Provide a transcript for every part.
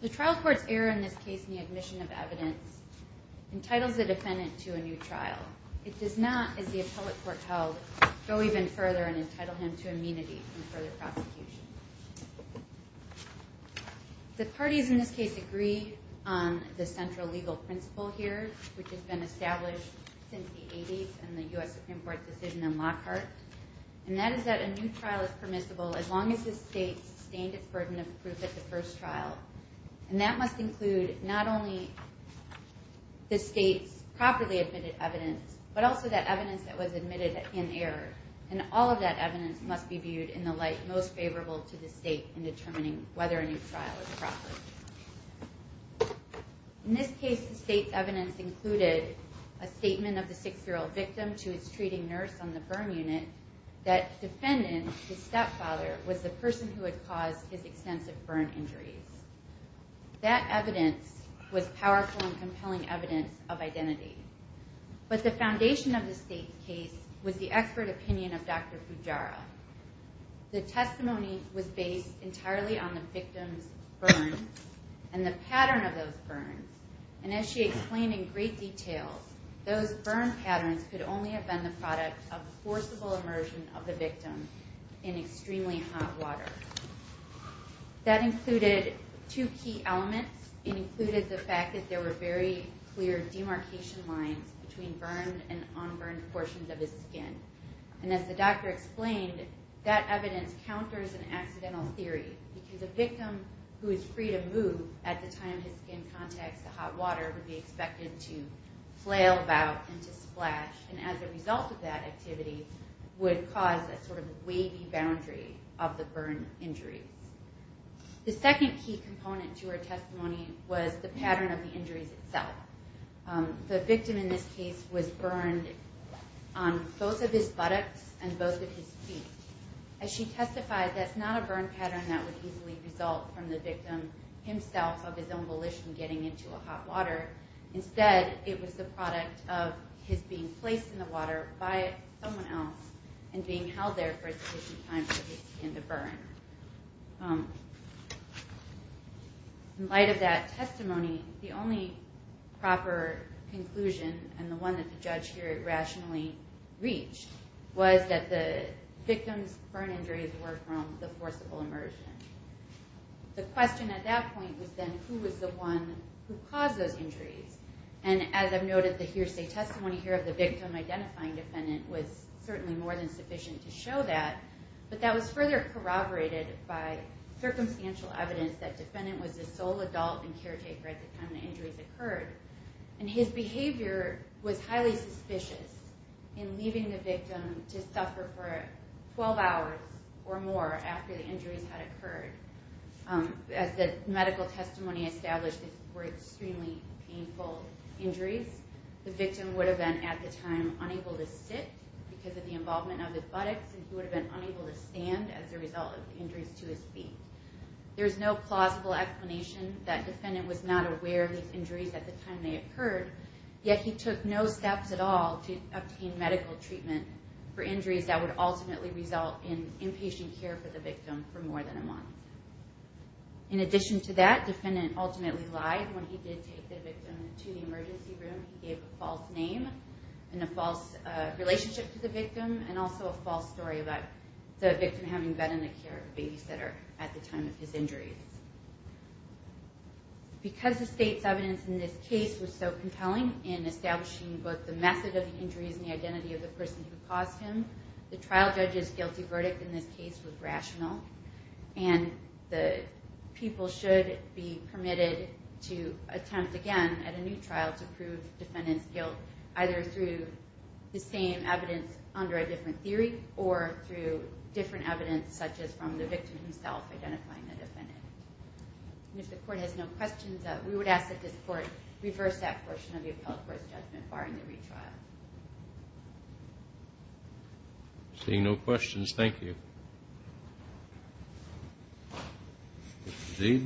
The trial court's error in this case in the admission of evidence entitles the defendant to a new trial. It does not, as the appellate court held, go even further than the defendant is entitled to a new trial. The parties in this case agree on the central legal principle here, which has been established since the 80s in the U.S. Supreme Court decision in Lockhart, and that is that a new trial is permissible as long as the state sustained its burden of proof at the first trial, and that must include not only the state's properly admitted evidence, but also that evidence that was admitted in error, and also that evidence that was admitted in error. All of that evidence must be viewed in the light most favorable to the state in determining whether a new trial is proper. In this case, the state's evidence included a statement of the six-year-old victim to his treating nurse on the burn unit that the defendant, his stepfather, was the person who had caused his extensive burn injuries. That evidence was powerful and compelling evidence of identity, but the foundation of the state's case was the expert opinion of Dr. Fujara. The testimony was based entirely on the victim's burn and the pattern of those burns, and as she explained in great detail, those burn patterns could only have been the product of the forcible immersion of the victim in extremely hot water. That included two key elements. It included the fact that there were very clear demarcation lines between burned and unburned portions of his skin, and as the doctor explained, that evidence counters an accidental theory because a victim who is free to move at the time his skin contacts the hot water would be expected to flail about and to splash, and as a result of that activity would cause a sort of wavy boundary of the burn injuries. The second key component to her testimony was the pattern of the injuries itself. The victim in this case was burned on both of his buttocks and both of his feet. As she testified, that's not a burn pattern that would easily result from the victim himself of his own volition getting into a hot water. Instead, it was the product of his being placed in the water by someone else and being held there for a sufficient time for his skin to burn. In light of that testimony, the only proper conclusion and the one that the judge here rationally reached was that the victim's burn injuries were from the forcible immersion. The question at that point was then who was the one who caused those injuries, and as I've noted, the hearsay testimony here of the victim identifying the defendant was certainly more than sufficient to show that, but that was further corroborated by circumstantial evidence that the defendant was the sole adult and caretaker at the time the injuries occurred, and his behavior was highly suspicious in leaving the victim to suffer for 12 hours or more after the injuries had occurred. As the medical testimony established, these were extremely painful injuries. The victim would have been, at the time, unable to sit because of the involvement of his buttocks, and he would have been unable to stand as a result of the injuries to his feet. There's no plausible explanation that the defendant was not aware of these injuries at the time they occurred, yet he took no steps at all to obtain medical treatment for injuries that would ultimately result in inpatient care for the victim for more than a month. In addition to that, the defendant ultimately lied when he did take the victim to the emergency room. He gave a false name and a false relationship to the victim, and also a false story about the victim having bed-in-the-care babysitter at the time of his injuries. Because the state's evidence in this case was so compelling in establishing both the method of the injuries and the identity of the person who caused them, the trial judge's guilty verdict in this case was rational, and the people should be permitted to attempt again at a new trial to prove the defendant's guilt either through the same evidence under a different theory or through different evidence such as from the victim himself identifying the defendant. If the Court has no questions, we would ask that this Court reverse that portion of the appellate court's judgment barring the retrial. Seeing no questions, thank you. Mr. Zeid.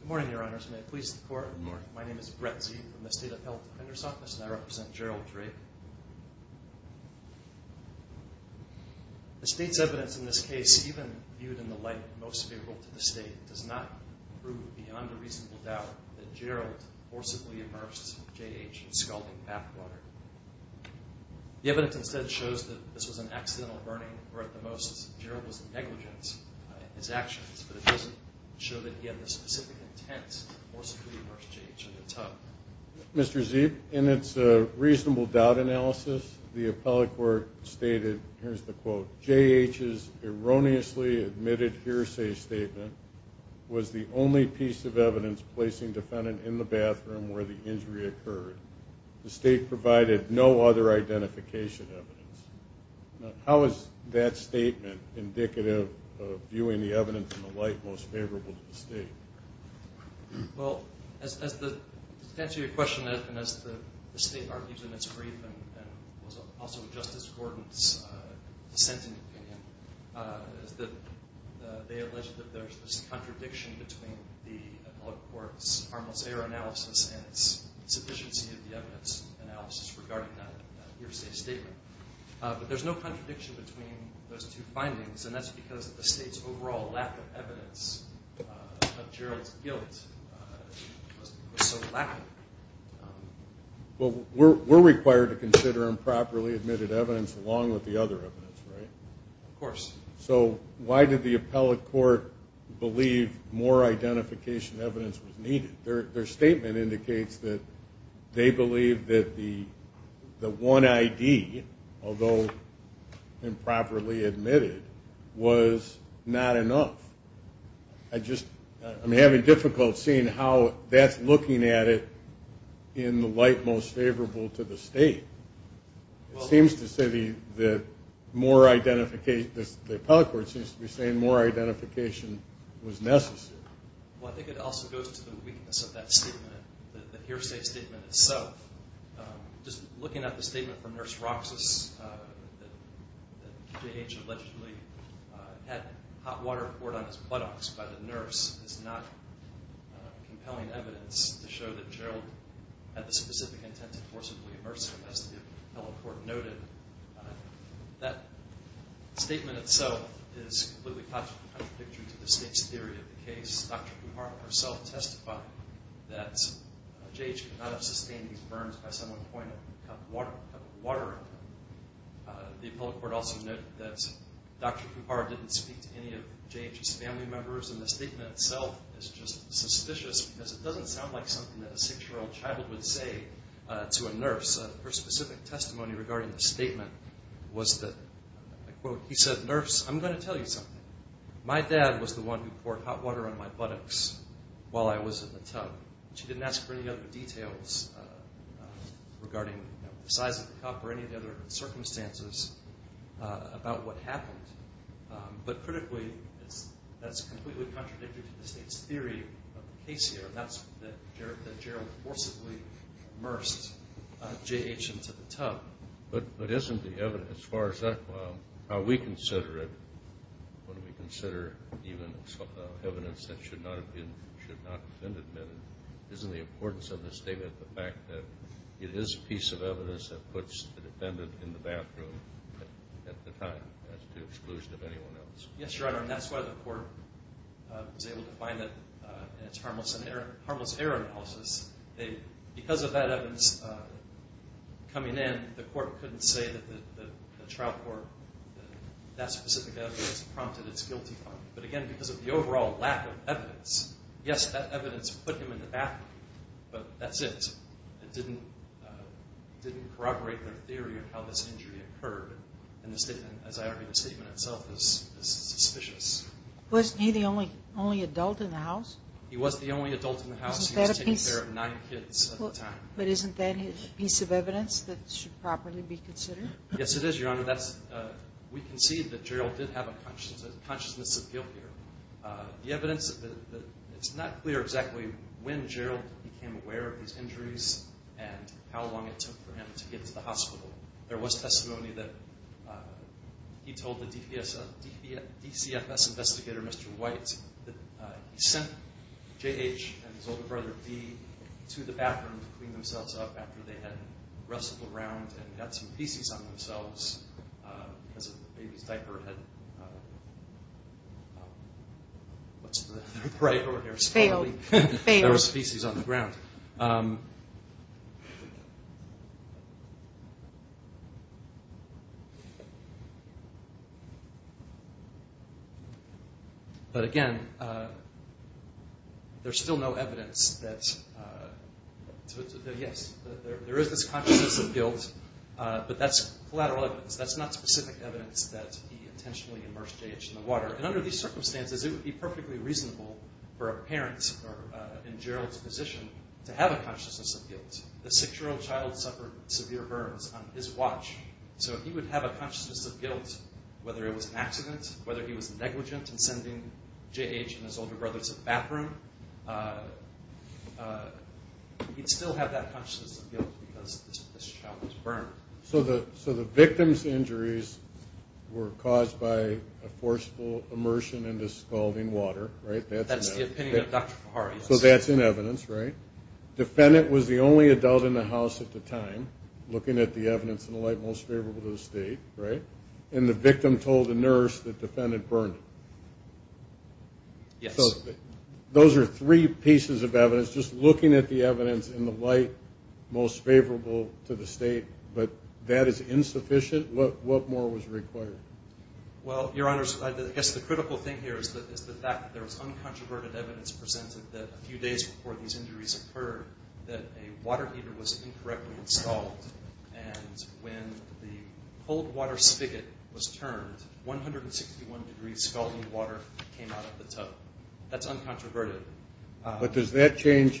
Good morning, Your Honors. May it please the Court? Good morning. My name is Brett Zeid from the State Appellate Defender's Office, and I represent Gerald Drake. The state's evidence in this case, even viewed in the light most favorable to the state, does not prove beyond a reasonable doubt that Gerald forcibly immersed J.H. in scalding bath water. The evidence instead shows that this was an accidental burning, or at the most, Gerald was negligent in his actions, but it doesn't show that he had the specific intent to forcibly immerse J.H. in the tub. Mr. Zeid, in its reasonable doubt analysis, the appellate court stated, here's the quote, J.H.'s erroneously admitted hearsay statement was the only piece of evidence placing defendant in the bathroom where the injury occurred. The state provided no other identification evidence. How is that statement indicative of viewing the evidence in the light most favorable to the state? Well, to answer your question, as the state argues in its brief and also Justice Gordon's dissenting opinion, they allege that there's this contradiction between the appellate court's harmless error analysis and its insufficiency of the evidence analysis regarding that hearsay statement. But there's no contradiction between those two findings, and that's because the state's overall lack of evidence of J.H. in the bathroom and Gerald's guilt was so lacking. Well, we're required to consider improperly admitted evidence along with the other evidence, right? Of course. So why did the appellate court believe more identification evidence was needed? Their statement indicates that they believe that the one I.D., although improperly admitted, was not enough. I'm having difficulty seeing how that's looking at it in the light most favorable to the state. It seems to say that the appellate court seems to be saying more identification was necessary. Well, I think it also goes to the weakness of that statement, the hearsay statement itself. Just looking at the statement from Nurse Roxas that J.H. allegedly had hot water poured on Gerald's face, I don't think that's true. I don't think that J.H. had hot water poured on his buttocks by the nurse is not compelling evidence to show that Gerald had the specific intent to forcibly immerse him, as the appellate court noted. That statement itself is completely contradictory to the state's theory of the case. Dr. Kuhar herself testified that J.H. could not have sustained these burns by some other point of water. The appellate court also noted that Dr. Kuhar didn't speak to any of J.H.'s family members, and the statement itself is just suspicious, because it doesn't sound like something that a six-year-old child would say to a nurse. Her specific testimony regarding the statement was that, I quote, he said, nurse, I'm going to tell you something. My dad was the one who poured hot water on my buttocks while I was in the tub. She didn't ask for any other details regarding the size of the cup or any of the other circumstances about what happened, but critically, that's completely contradictory to the state's theory of the case here, and that's that Gerald forcibly immersed J.H. into the tub. But isn't the evidence, as far as that, how we consider it, when we consider even evidence that should not have been admitted, isn't the importance of the statement the fact that it is a piece of evidence that puts the defendant in the bathroom at the time, as to the exclusion of anyone else? Yes, Your Honor, and that's why the court was able to find that it's harmless error analysis. Because of that evidence coming in, the court couldn't say that the trial court, that specific evidence, prompted its guilty final. But again, because of the overall lack of evidence, yes, that evidence put him in the bathroom, but that's it. It didn't corroborate their theory of how this injury occurred. And the statement, as I argue, the statement itself is suspicious. Wasn't he the only adult in the house? He was the only adult in the house. He was taking care of nine kids at the time. But isn't that a piece of evidence that should properly be considered? Yes, it is, Your Honor. We concede that Gerald did have a consciousness of guilt here. The evidence, it's not clear exactly when Gerald became aware of these injuries and how long it took for him to get to the hospital. There was testimony that he told the DCFS investigator, Mr. White, that he sent J.H. and his older brother, D., to the bathroom to clean themselves up after they had wrestled around and got some feces on themselves because of the baby's diaper. What's the right word? There was feces on the ground. But again, there's still no evidence that, yes, there is this consciousness of guilt, but that's collateral evidence. That's not specific evidence that he intentionally immersed J.H. in the water. And under these circumstances, it would be perfectly reasonable for a parent in Gerald's position to have a consciousness of guilt. The six-year-old child suffered severe burns on his watch. So he would have a consciousness of guilt whether it was an accident, whether he was negligent in sending J.H. and his older brother to the bathroom. He'd still have that consciousness of guilt because this child was burned. So the victim's injuries were caused by a forceful immersion into scalding water, right? And the victim told the nurse the defendant burned him. So those are three pieces of evidence, just looking at the evidence in the light most favorable to the state. But that is insufficient? What more was required? Well, Your Honors, I guess the critical thing here is the fact that there was uncontroverted evidence presented that a few days before these injuries occurred, that a water heater was incorrectly installed. And when the cold water spigot was turned, 161 degrees scalding water came out of the tub. That's uncontroverted. But does that change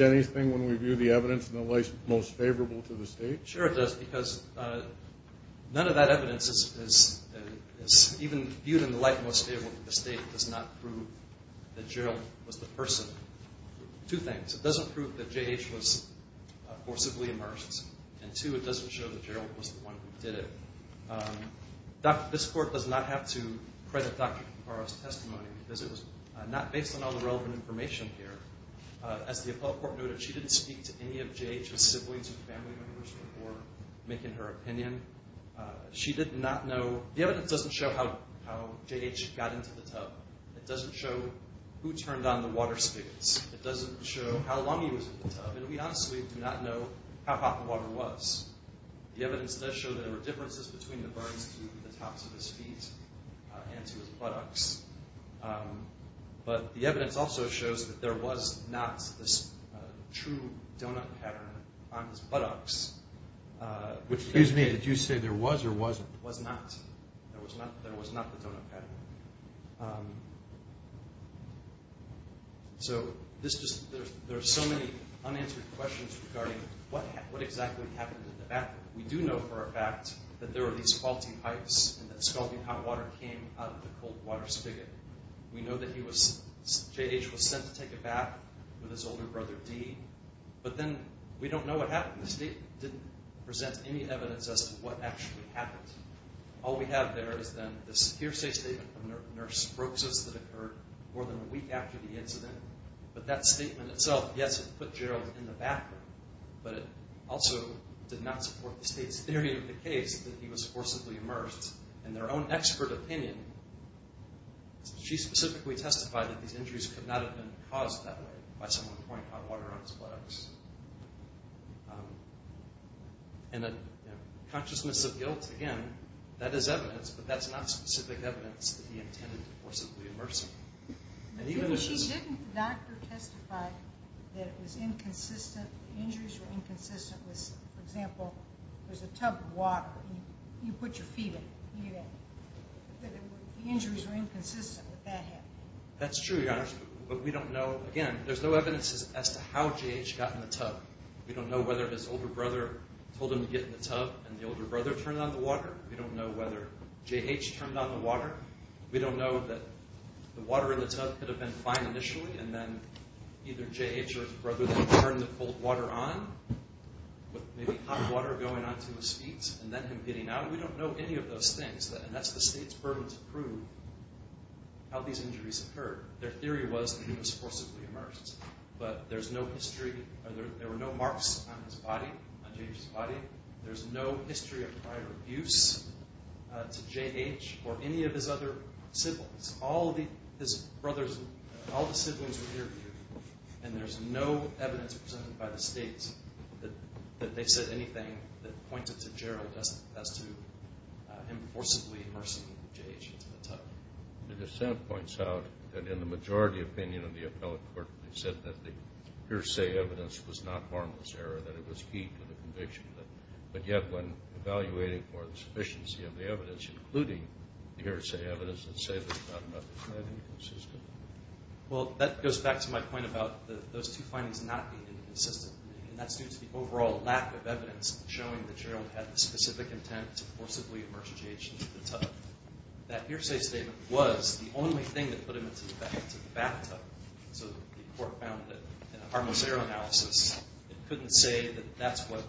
anything when we view the evidence in the light most favorable to the state? Sure it does, because none of that evidence is even viewed in the light most favorable to the state. It does not prove that Gerald was the person. Two things. It doesn't prove that J.H. was forcibly immersed. And two, it doesn't show that Gerald was the one who did it. This Court does not have to credit Dr. Kimpara's testimony, because it was not based on all the relevant information here. As the appellate court noted, she didn't speak to any of J.H.'s siblings or family members before making her opinion. She did not know. The evidence doesn't show how J.H. got into the tub. It doesn't show who turned on the water spigots. It doesn't show how long he was in the tub, and we honestly do not know how hot the water was. The evidence does show that there were differences between the burns to the tops of his feet and to his buttocks. But the evidence also shows that there was not this true donut pattern on his buttocks. Excuse me, did you say there was or wasn't? There was not. There was not the donut pattern. So there are so many unanswered questions regarding what exactly happened in the bathroom. We do know for a fact that there were these faulty pipes and that scalding hot water came out of the cold water spigot. We know that J.H. was sent to take a bath with his older brother, D. But then we don't know what happened. The state didn't present any evidence as to what actually happened. All we have there is then the Secure State Statement from Nurse Brooks that occurred more than a week after the incident. But that statement itself, yes, it put J.H. in the bathroom. But it also did not support the state's theory of the case that he was forcibly immersed in their own expert opinion. She specifically testified that these injuries could not have been caused that way by someone pouring hot water on his buttocks. And a consciousness of guilt, again, that is evidence, but that's not specific evidence that he intended to forcibly immerse him. She didn't, the doctor testified that it was inconsistent, the injuries were inconsistent with, for example, there's a tub of water and you put your feet in it. The injuries were inconsistent with that. That's true, Your Honor, but we don't know, again, there's no evidence as to how J.H. got in the tub. We don't know whether his older brother told him to get in the tub and the older brother turned on the water. We don't know whether J.H. turned on the water. We don't know that the water in the tub could have been fine initially and then either J.H. or his brother then turned the cold water on, with maybe hot water going onto his feet and then him getting out. We don't know any of those things, and that's the state's burden to prove how these injuries occurred. Their theory was that he was forcibly immersed, but there's no history, there were no marks on his body, on J.H.'s body. There's no history of prior abuse to J.H. or any of his other siblings. All the siblings were interviewed, and there's no evidence presented by the state that they said anything that pointed to Gerald as to him forcibly immersing J.H. into the tub. The dissent points out that in the majority opinion of the appellate court, they said that the hearsay evidence was not harmless error, that it was key to the conviction, but yet when evaluating for the sufficiency of the evidence, including the hearsay evidence, they say there's not enough evidence. Well, that goes back to my point about those two findings not being consistent, and that's due to the overall lack of evidence showing that Gerald had the specific intent to forcibly immerse J.H. into the tub. That hearsay statement was the only thing that put him into the bathtub, so the court found that in a harmless error analysis, it couldn't say that that's what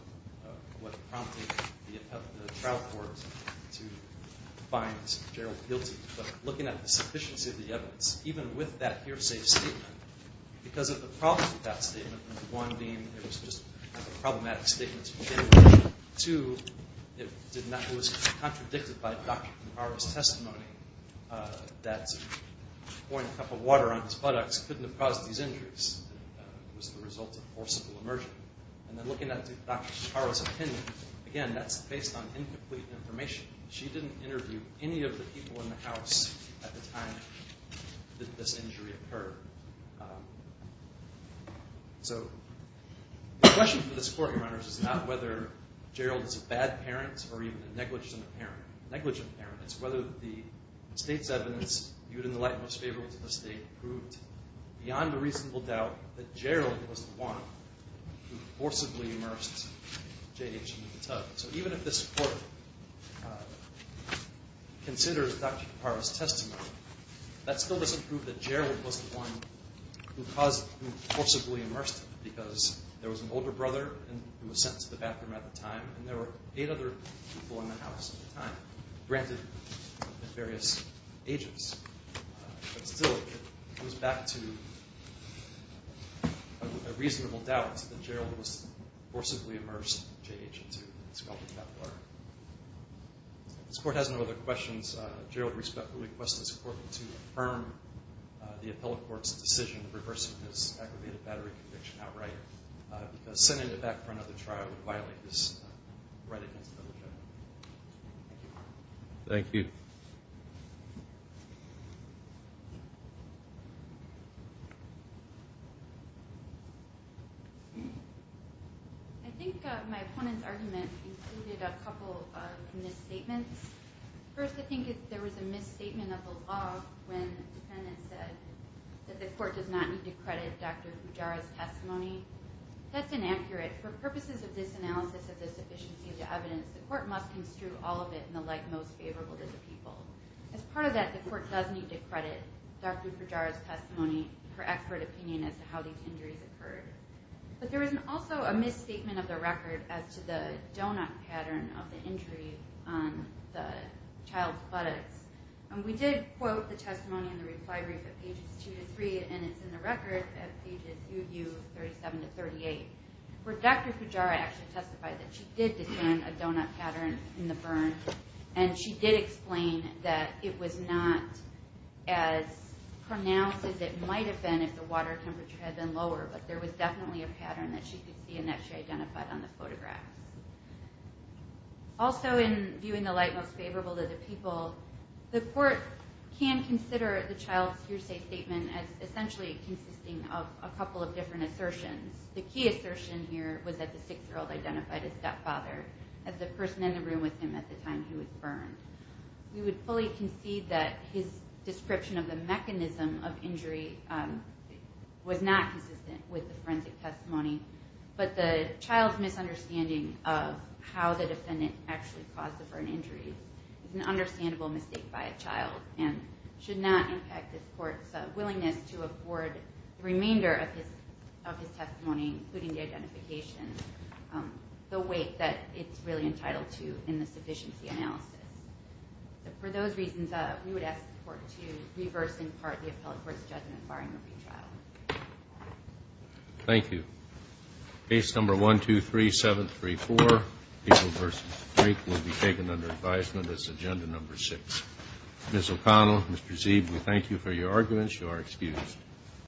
prompted the trial court to find Gerald guilty. But looking at the sufficiency of the evidence, even with that hearsay statement, because of the problems with that statement, one being it was just a problematic statement to begin with, two, it was contradicted by Dr. Kimhara's testimony that pouring a cup of water on his buttocks couldn't have caused these injuries. It was the result of forcible immersion. And then looking at Dr. Kimhara's opinion, again, that's based on incomplete information. She didn't interview any of the people in the house at the time that this injury occurred. So the question for this court, Your Honor, is not whether Gerald is a bad parent or even a negligent parent. A negligent parent is whether the state's evidence, viewed in the light most favorable to the state, proved beyond a reasonable doubt that Gerald was the one who forcibly immersed J.H. into the tub. So even if this court considers Dr. Kimhara's testimony, that still doesn't prove that Gerald was the one who forcibly immersed him, because there was an older brother who was sent to the bathroom at the time, and there were eight other people in the house at the time, granted at various ages. But still, it goes back to a reasonable doubt that Gerald was forcibly immersed J.H. into this cup of water. If this court has no other questions, Gerald respectfully requests this court to affirm the appellate court's decision of reversing this aggravated battery conviction outright, because sending it back for another trial would violate this right against the bill of judgment. Thank you. I think my opponent's argument included a couple of misstatements. First, I think there was a misstatement of the law when the defendant said that the court does not need to credit Dr. Kimhara's testimony. That's inaccurate. For purposes of this analysis of the sufficiency of the evidence, the court must construe all of it in the light most favorable to the people. As part of that, the court does need to credit Dr. Kimhara's testimony for expert opinion as to how these injuries occurred. But there was also a misstatement of the record as to the donut pattern of the injury on the child's buttocks. We did quote the testimony in the reply brief at pages 2-3, and it's in the record at pages 37-38, where Dr. Kujara actually testified that she did descend a donut pattern in the burn, and she did explain that it was not as pronounced as it might have been if the water temperature had been lower, but there was definitely a pattern that she could see and that she identified on the photographs. Also, in viewing the light most favorable to the people, the court can consider the child's hearsay statement as essentially consisting of a couple of different assertions. The key assertion here was that the six-year-old identified his stepfather as the person in the room with him at the time he was burned. We would fully concede that his description of the mechanism of injury was not consistent with the forensic testimony, but the child's misunderstanding of how the defendant actually caused the burn injury is an understandable mistake by a child and should not impact this court's willingness to afford the remainder of his testimony, including the identification, the weight that it's really entitled to in the sufficiency analysis. For those reasons, we would ask the court to reverse, in part, the appellate court's judgment barring a retrial. Thank you. Case number 123734, People v. Freak, will be taken under advisement as agenda number six. Ms. O'Connell, Mr. Zeeb, we thank you for your arguments. You are excused.